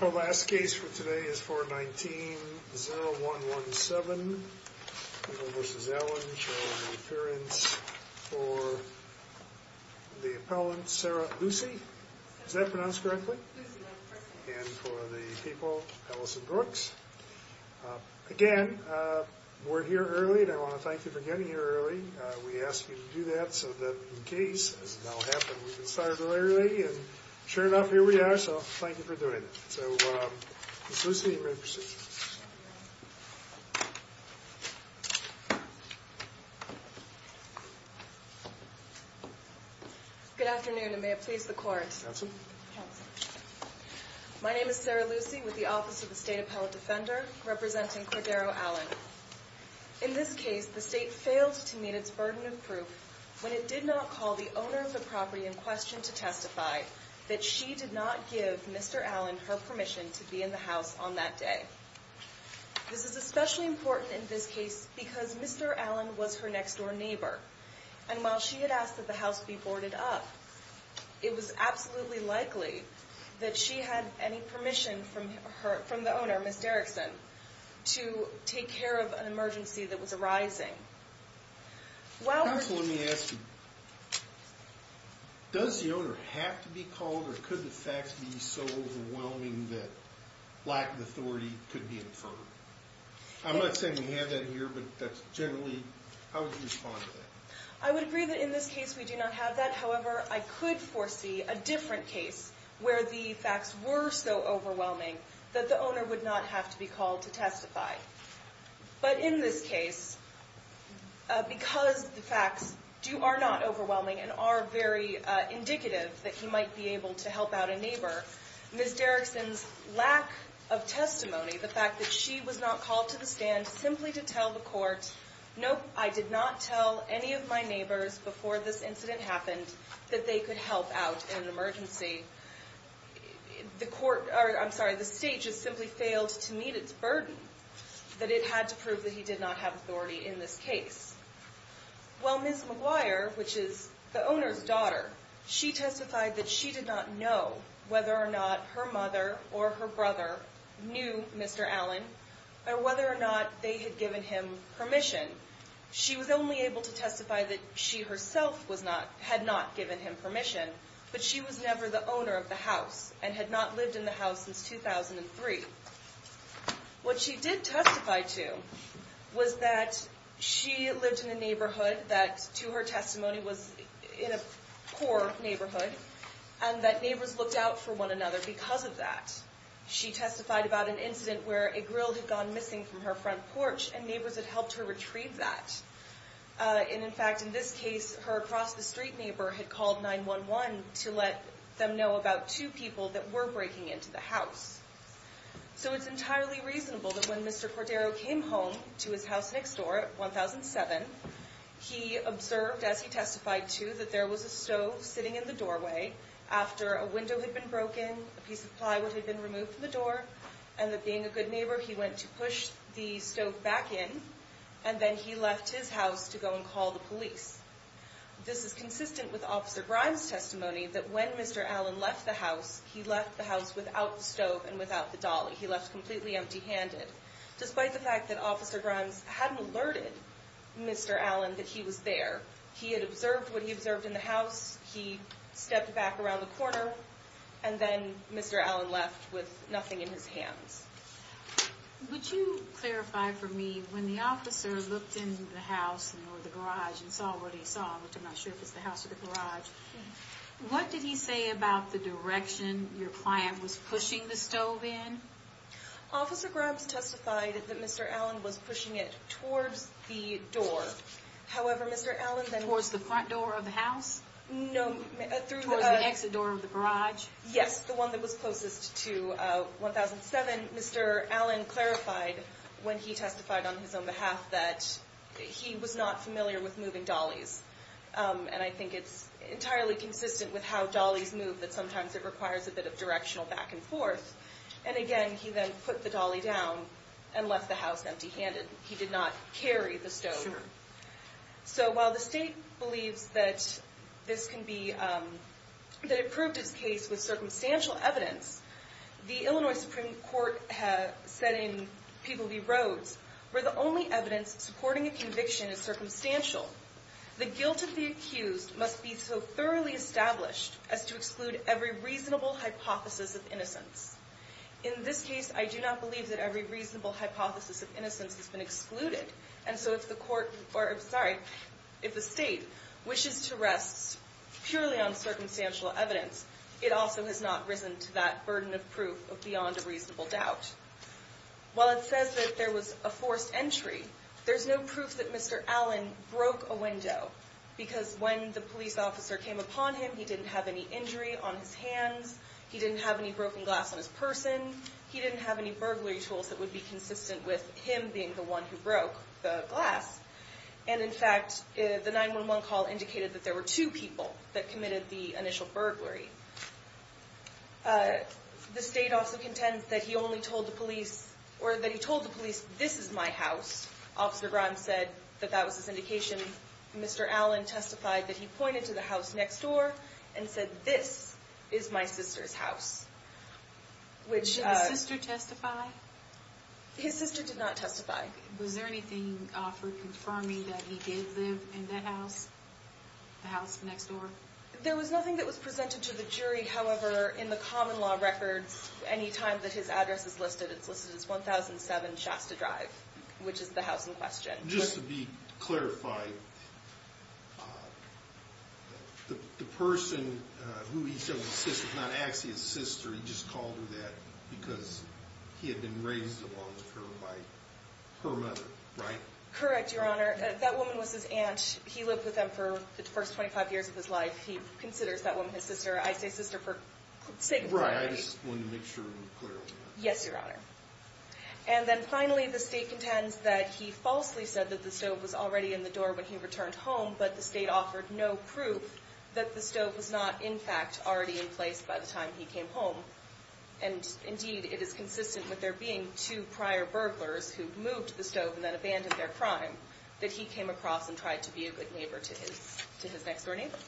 Our last case for today is 419-0117 for the appellant Sarah Lucy. Is that pronounced correctly? And for the people, Allison Brooks. Again, we're here early and I want to thank you for getting here early. We ask you to do that so that in case, as has now happened, we can start early. And sure enough, here we are, so thank you for doing it. So, Ms. Lucy, you're ready to proceed. Good afternoon, and may it please the court. Counsel? Counsel. My name is Sarah Lucy with the Office of the State Appellate Defender, representing Cordero Allen. In this case, the state failed to meet its burden of proof when it did not call the owner of the property in question to testify that she did not give Mr. Allen her permission to be in the house on that day. This is especially important in this case because Mr. Allen was her next-door neighbor, and while she had asked that the house be boarded up, it was absolutely likely that she had any permission from the owner, Ms. Derrickson, to take care of an emergency that was arising. Counsel, let me ask you, does the owner have to be called, or could the facts be so overwhelming that lack of authority could be inferred? I'm not saying we have that here, but generally, how would you respond to that? I would agree that in this case we do not have that. However, I could foresee a different case where the facts were so overwhelming that the owner would not have to be called to testify. But in this case, because the facts are not overwhelming and are very indicative that he might be able to help out a neighbor, Ms. Derrickson's lack of testimony, the fact that she was not called to the stand simply to tell the court, nope, I did not tell any of my neighbors before this incident happened that they could help out in an emergency. The state just simply failed to meet its burden that it had to prove that he did not have authority in this case. Well, Ms. McGuire, which is the owner's daughter, she testified that she did not know whether or not her mother or her brother knew Mr. Allen, or whether or not they had given him permission. She was only able to testify that she herself had not given him permission, but she was never the owner of the house, and had not lived in the house since 2003. What she did testify to was that she lived in a neighborhood that, to her testimony, was in a poor neighborhood, and that neighbors looked out for one another because of that. She testified about an incident where a grill had gone missing from her front porch, and neighbors had helped her retrieve that. And in fact, in this case, her across-the-street neighbor had called 911 to let them know about two people that were breaking into the house. So it's entirely reasonable that when Mr. Cordero came home to his house next door at 1007, he observed, as he testified to, that there was a stove sitting in the doorway. After a window had been broken, a piece of plywood had been removed from the door, and that being a good neighbor, he went to push the stove back in, and then he left his house to go and call the police. This is consistent with Officer Grimes' testimony that when Mr. Allen left the house, he left the house without the stove and without the dolly. He left completely empty-handed. Despite the fact that Officer Grimes hadn't alerted Mr. Allen that he was there, he had observed what he observed in the house. He stepped back around the corner, and then Mr. Allen left with nothing in his hands. Would you clarify for me, when the officer looked in the house or the garage and saw what he saw, which I'm not sure if it's the house or the garage, what did he say about the direction your client was pushing the stove in? Officer Grimes testified that Mr. Allen was pushing it towards the door. Towards the front door of the house? No. Towards the exit door of the garage? Yes, the one that was closest to 1007. Mr. Allen clarified when he testified on his own behalf that he was not familiar with moving dollies, and I think it's entirely consistent with how dollies move that sometimes it requires a bit of directional back and forth. And again, he then put the dolly down and left the house empty-handed. He did not carry the stove. So while the state believes that it proved its case with circumstantial evidence, the Illinois Supreme Court said in People v. Rhodes, where the only evidence supporting a conviction is circumstantial, the guilt of the accused must be so thoroughly established as to exclude every reasonable hypothesis of innocence. In this case, I do not believe that every reasonable hypothesis of innocence has been excluded, and so if the state wishes to rest purely on circumstantial evidence, it also has not risen to that burden of proof of beyond a reasonable doubt. While it says that there was a forced entry, there's no proof that Mr. Allen broke a window because when the police officer came upon him, he didn't have any injury on his hands, he didn't have any broken glass on his person, he didn't have any burglary tools that would be consistent with him being the one who broke the glass. And in fact, the 911 call indicated that there were two people that committed the initial burglary. The state also contends that he only told the police, or that he told the police, this is my house. Officer Grimes said that that was his indication. Mr. Allen testified that he pointed to the house next door and said, this is my sister's house. Did his sister testify? His sister did not testify. Was there anything offered confirming that he did live in that house, the house next door? There was nothing that was presented to the jury. However, in the common law records, any time that his address is listed, it's listed as 1007 Shasta Drive, which is the house in question. Just to be clarified, the person who he said was his sister, not actually his sister, he just called her that because he had been raised alongside her by her mother, right? Correct, Your Honor. That woman was his aunt. He lived with them for the first 25 years of his life. He considers that woman his sister. I say sister for sake of clarity. Right, I just wanted to make sure I'm clear on that. Yes, Your Honor. And then finally, the State contends that he falsely said that the stove was already in the door when he returned home, but the State offered no proof that the stove was not, in fact, already in place by the time he came home. And indeed, it is consistent with there being two prior burglars who moved the stove and then abandoned their crime that he came across and tried to be a good neighbor to his next-door neighbor.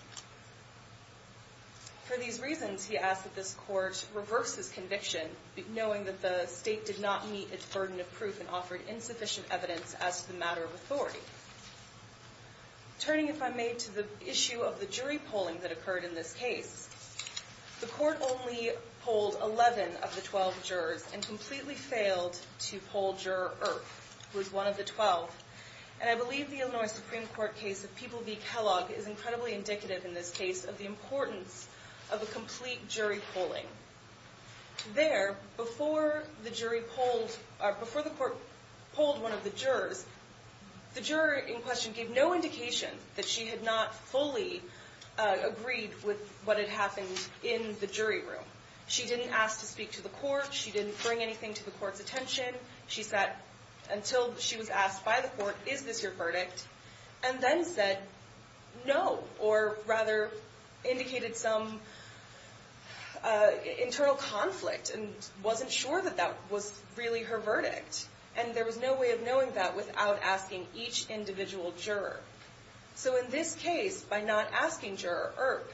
For these reasons, he asks that this Court reverse this conviction, knowing that the State did not meet its burden of proof and offered insufficient evidence as to the matter of authority. Turning, if I may, to the issue of the jury polling that occurred in this case, the Court only polled 11 of the 12 jurors and completely failed to poll juror Earp, who was one of the 12. And I believe the Illinois Supreme Court case of People v. Kellogg is incredibly indicative in this case of the importance of a complete jury polling. There, before the court polled one of the jurors, the juror in question gave no indication that she had not fully agreed with what had happened in the jury room. She didn't ask to speak to the court. She didn't bring anything to the court's attention. She sat until she was asked by the court, is this your verdict? And then said, no, or rather indicated some internal conflict and wasn't sure that that was really her verdict. And there was no way of knowing that without asking each individual juror. So in this case, by not asking Juror Earp,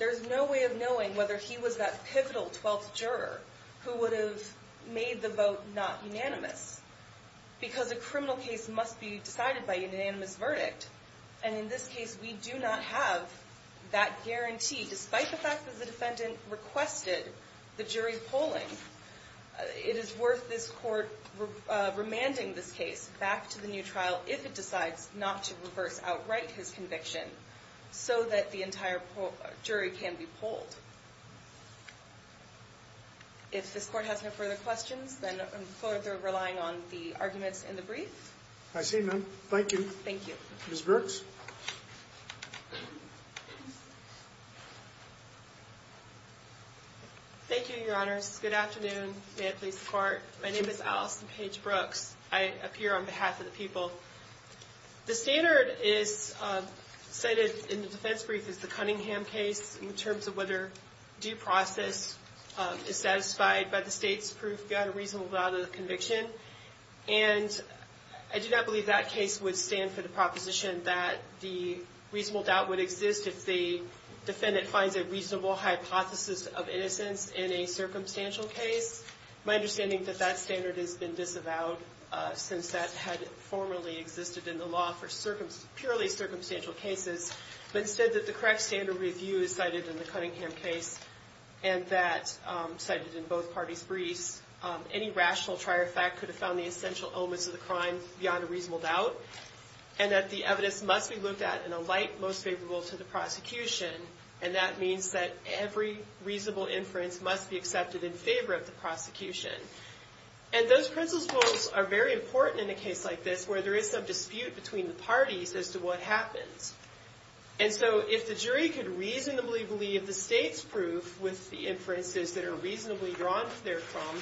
there's no way of knowing whether he was that pivotal 12th juror who would have made the vote not unanimous. Because a criminal case must be decided by unanimous verdict. And in this case, we do not have that guarantee, despite the fact that the defendant requested the jury polling. It is worth this court remanding this case back to the new trial if it decides not to reverse outright his conviction so that the entire jury can be polled. If this court has no further questions, then I'm further relying on the arguments in the brief. I see none. Thank you. Thank you. Ms. Brooks. Thank you, your honors. Good afternoon. May it please the court. My name is Allison Paige Brooks. I appear on behalf of the people. The standard cited in the defense brief is the Cunningham case in terms of whether due process is satisfied by the state's proof, got a reasonable doubt of the conviction. And I do not believe that case would stand for the proposition that the reasonable doubt would exist if the defendant finds a reasonable hypothesis of innocence in a circumstantial case. My understanding is that that standard has been disavowed since that had formerly existed in the law for purely circumstantial cases. But instead, the correct standard review is cited in the Cunningham case and that's cited in both parties' briefs. Any rational trier fact could have found the essential elements of the crime beyond a reasonable doubt and that the evidence must be looked at in a light most favorable to the prosecution. And that means that every reasonable inference must be accepted in favor of the prosecution. And those principles are very important in a case like this where there is some dispute between the parties as to what happens. And so if the jury could reasonably believe the state's proof with the inferences that are reasonably drawn therefrom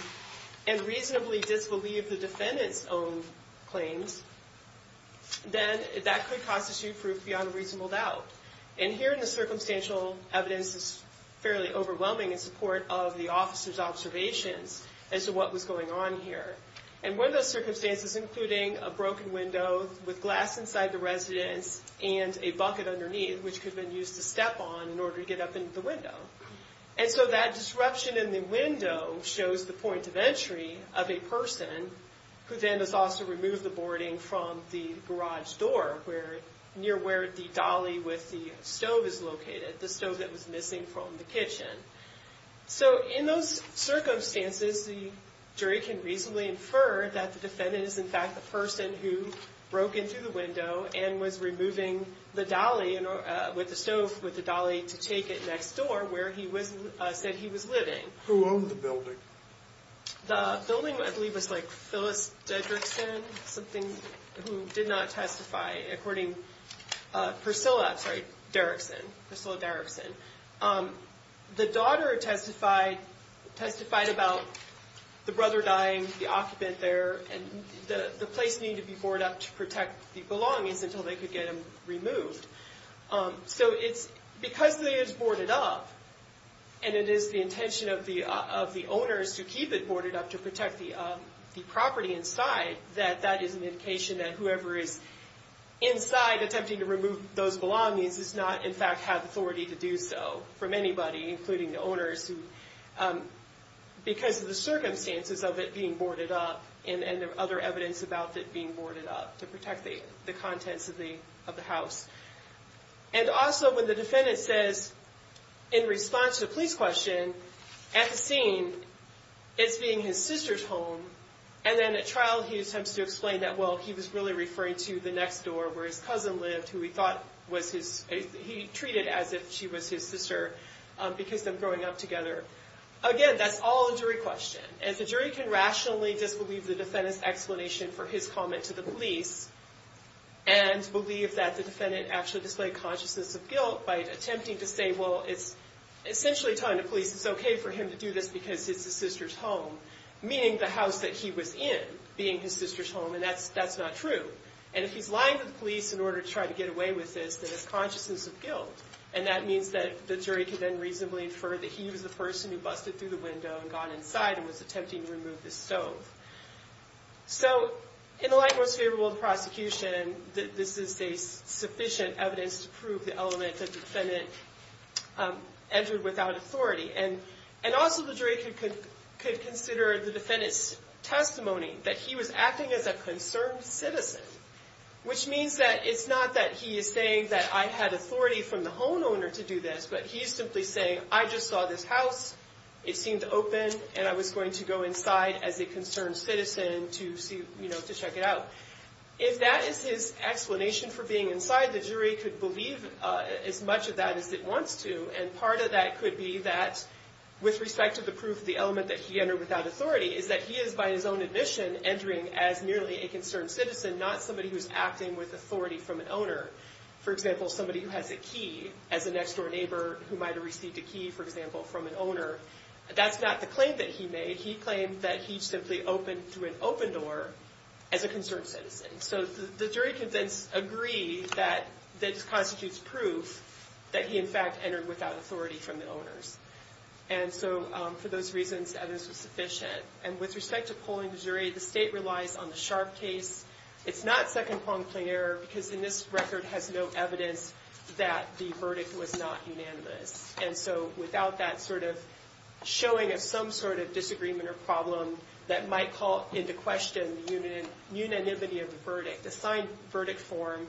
and reasonably disbelieve the defendant's own claims, then that could constitute proof beyond a reasonable doubt. And here in the circumstantial evidence is fairly overwhelming in support of the officer's observations as to what was going on here. And one of those circumstances including a broken window with glass inside the residence and a bucket underneath which could have been used to step on in order to get up into the window. And so that disruption in the window shows the point of entry of a person who then is asked to remove the boarding from the garage door near where the dolly with the stove is located, the stove that was missing from the kitchen. So in those circumstances, the jury can reasonably infer that the defendant is in fact the person who broke into the window and was removing the dolly with the stove to take it next door where he said he was living. Who owned the building? The building, I believe, was like Phyllis Derrickson, something who did not testify. According, Priscilla, sorry, Derrickson, Priscilla Derrickson. The daughter testified about the brother dying, the occupant there, and the place needed to be boarded up to protect the belongings until they could get him removed. So it's because it is boarded up and it is the intention of the owners to keep it boarded up to protect the property inside that that is an indication that whoever is inside attempting to remove those belongings does not in fact have authority to do so from anybody including the owners because of the circumstances of it being boarded up and other evidence about it being boarded up to protect the contents of the house. And also when the defendant says in response to the police question at the scene it's being his sister's home and then at trial he attempts to explain that, well, he was really referring to the next door where his cousin lived who he thought was his, he treated as if she was his sister because of them growing up together. Again, that's all a jury question. And the jury can rationally disbelieve the defendant's explanation for his comment to the police and believe that the defendant actually displayed consciousness of guilt by attempting to say, well, it's essentially telling the police it's okay for him to do this because it's his sister's home, meaning the house that he was in being his sister's home, and that's not true. And if he's lying to the police in order to try to get away with this, then it's consciousness of guilt. And that means that the jury can then reasonably infer that he was the person who busted through the window and got inside and was attempting to remove the stove. So in the light most favorable to prosecution, this is sufficient evidence to prove the element that the defendant entered without authority. And also the jury could consider the defendant's testimony that he was acting as a concerned citizen, which means that it's not that he is saying that I had authority from the homeowner to do this, but he's simply saying I just saw this house, it seemed open, and I was going to go inside as a concerned citizen to check it out. If that is his explanation for being inside, the jury could believe as much of that as it wants to, and part of that could be that with respect to the proof of the element that he entered without authority is that he is by his own admission entering as merely a concerned citizen, not somebody who's acting with authority from an owner. For example, somebody who has a key as a next door neighbor who might have received a key, for example, from an owner. That's not the claim that he made. He claimed that he simply opened through an open door as a concerned citizen. So the jury could then agree that this constitutes proof that he in fact entered without authority from the owners. And so for those reasons, evidence was sufficient. And with respect to polling the jury, the state relies on the Sharpe case. It's not second-pronged plain error because in this record has no evidence that the verdict was not unanimous. And so without that sort of showing of some sort of disagreement or problem that might call into question the unanimity of the verdict, the signed verdict form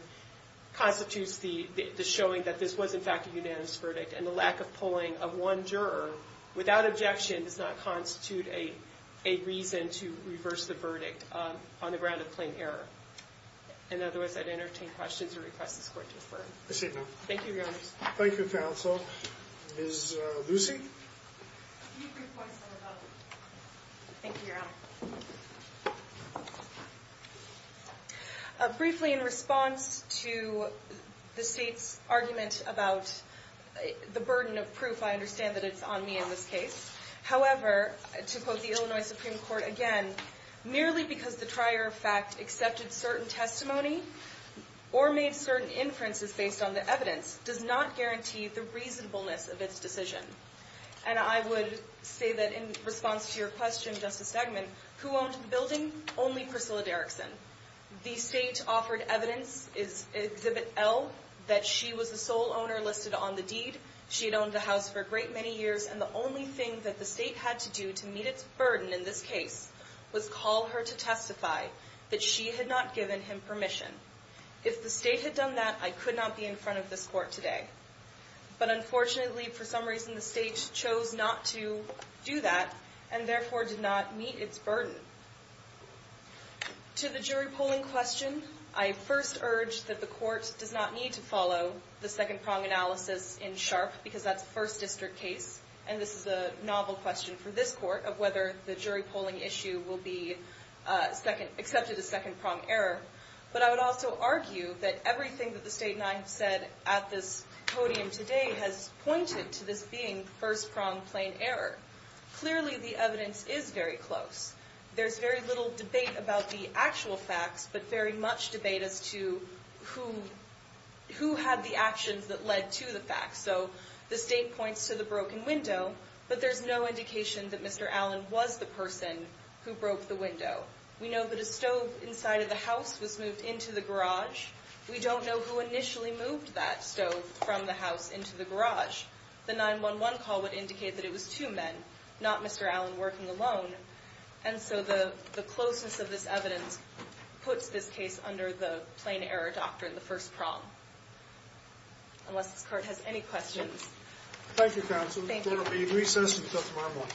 constitutes the showing that this was in fact a unanimous verdict, and the lack of polling of one juror without objection does not constitute a reason to reverse the verdict on the ground of plain error. In other words, I'd entertain questions or request this court to defer. Thank you, Your Honor. Thank you, counsel. Ms. Lucy? Can you brief my son about it? Thank you, Your Honor. Briefly, in response to the state's argument about the burden of proof, I understand that it's on me in this case. However, to quote the Illinois Supreme Court again, merely because the trier of fact accepted certain testimony or made certain inferences based on the evidence does not guarantee the reasonableness of its decision. And I would say that in response to your question, Justice Stegman, who owned the building? Only Priscilla Derrickson. The state offered evidence, Exhibit L, that she was the sole owner listed on the deed. She had owned the house for a great many years, and the only thing that the state had to do to meet its burden in this case was call her to testify that she had not given him permission. If the state had done that, I could not be in front of this court today. But unfortunately, for some reason, the state chose not to do that, and therefore did not meet its burden. To the jury polling question, I first urge that the court does not need to follow the second-prong analysis in Sharpe, because that's a First District case, and this is a novel question for this court, of whether the jury polling issue will be accepted as second-prong error. But I would also argue that everything that the state and I have said at this podium today has pointed to this being first-prong plain error. Clearly, the evidence is very close. There's very little debate about the actual facts, but very much debate as to who had the actions that led to the facts. So the state points to the broken window, but there's no indication that Mr. Allen was the person who broke the window. We know that a stove inside of the house was moved into the garage. We don't know who initially moved that stove from the house into the garage. The 911 call would indicate that it was two men, not Mr. Allen working alone. And so the closeness of this evidence puts this case under the plain error doctrine, the first prong. Unless this court has any questions. Thank you, counsel. Thank you. The court will be in recess until tomorrow morning.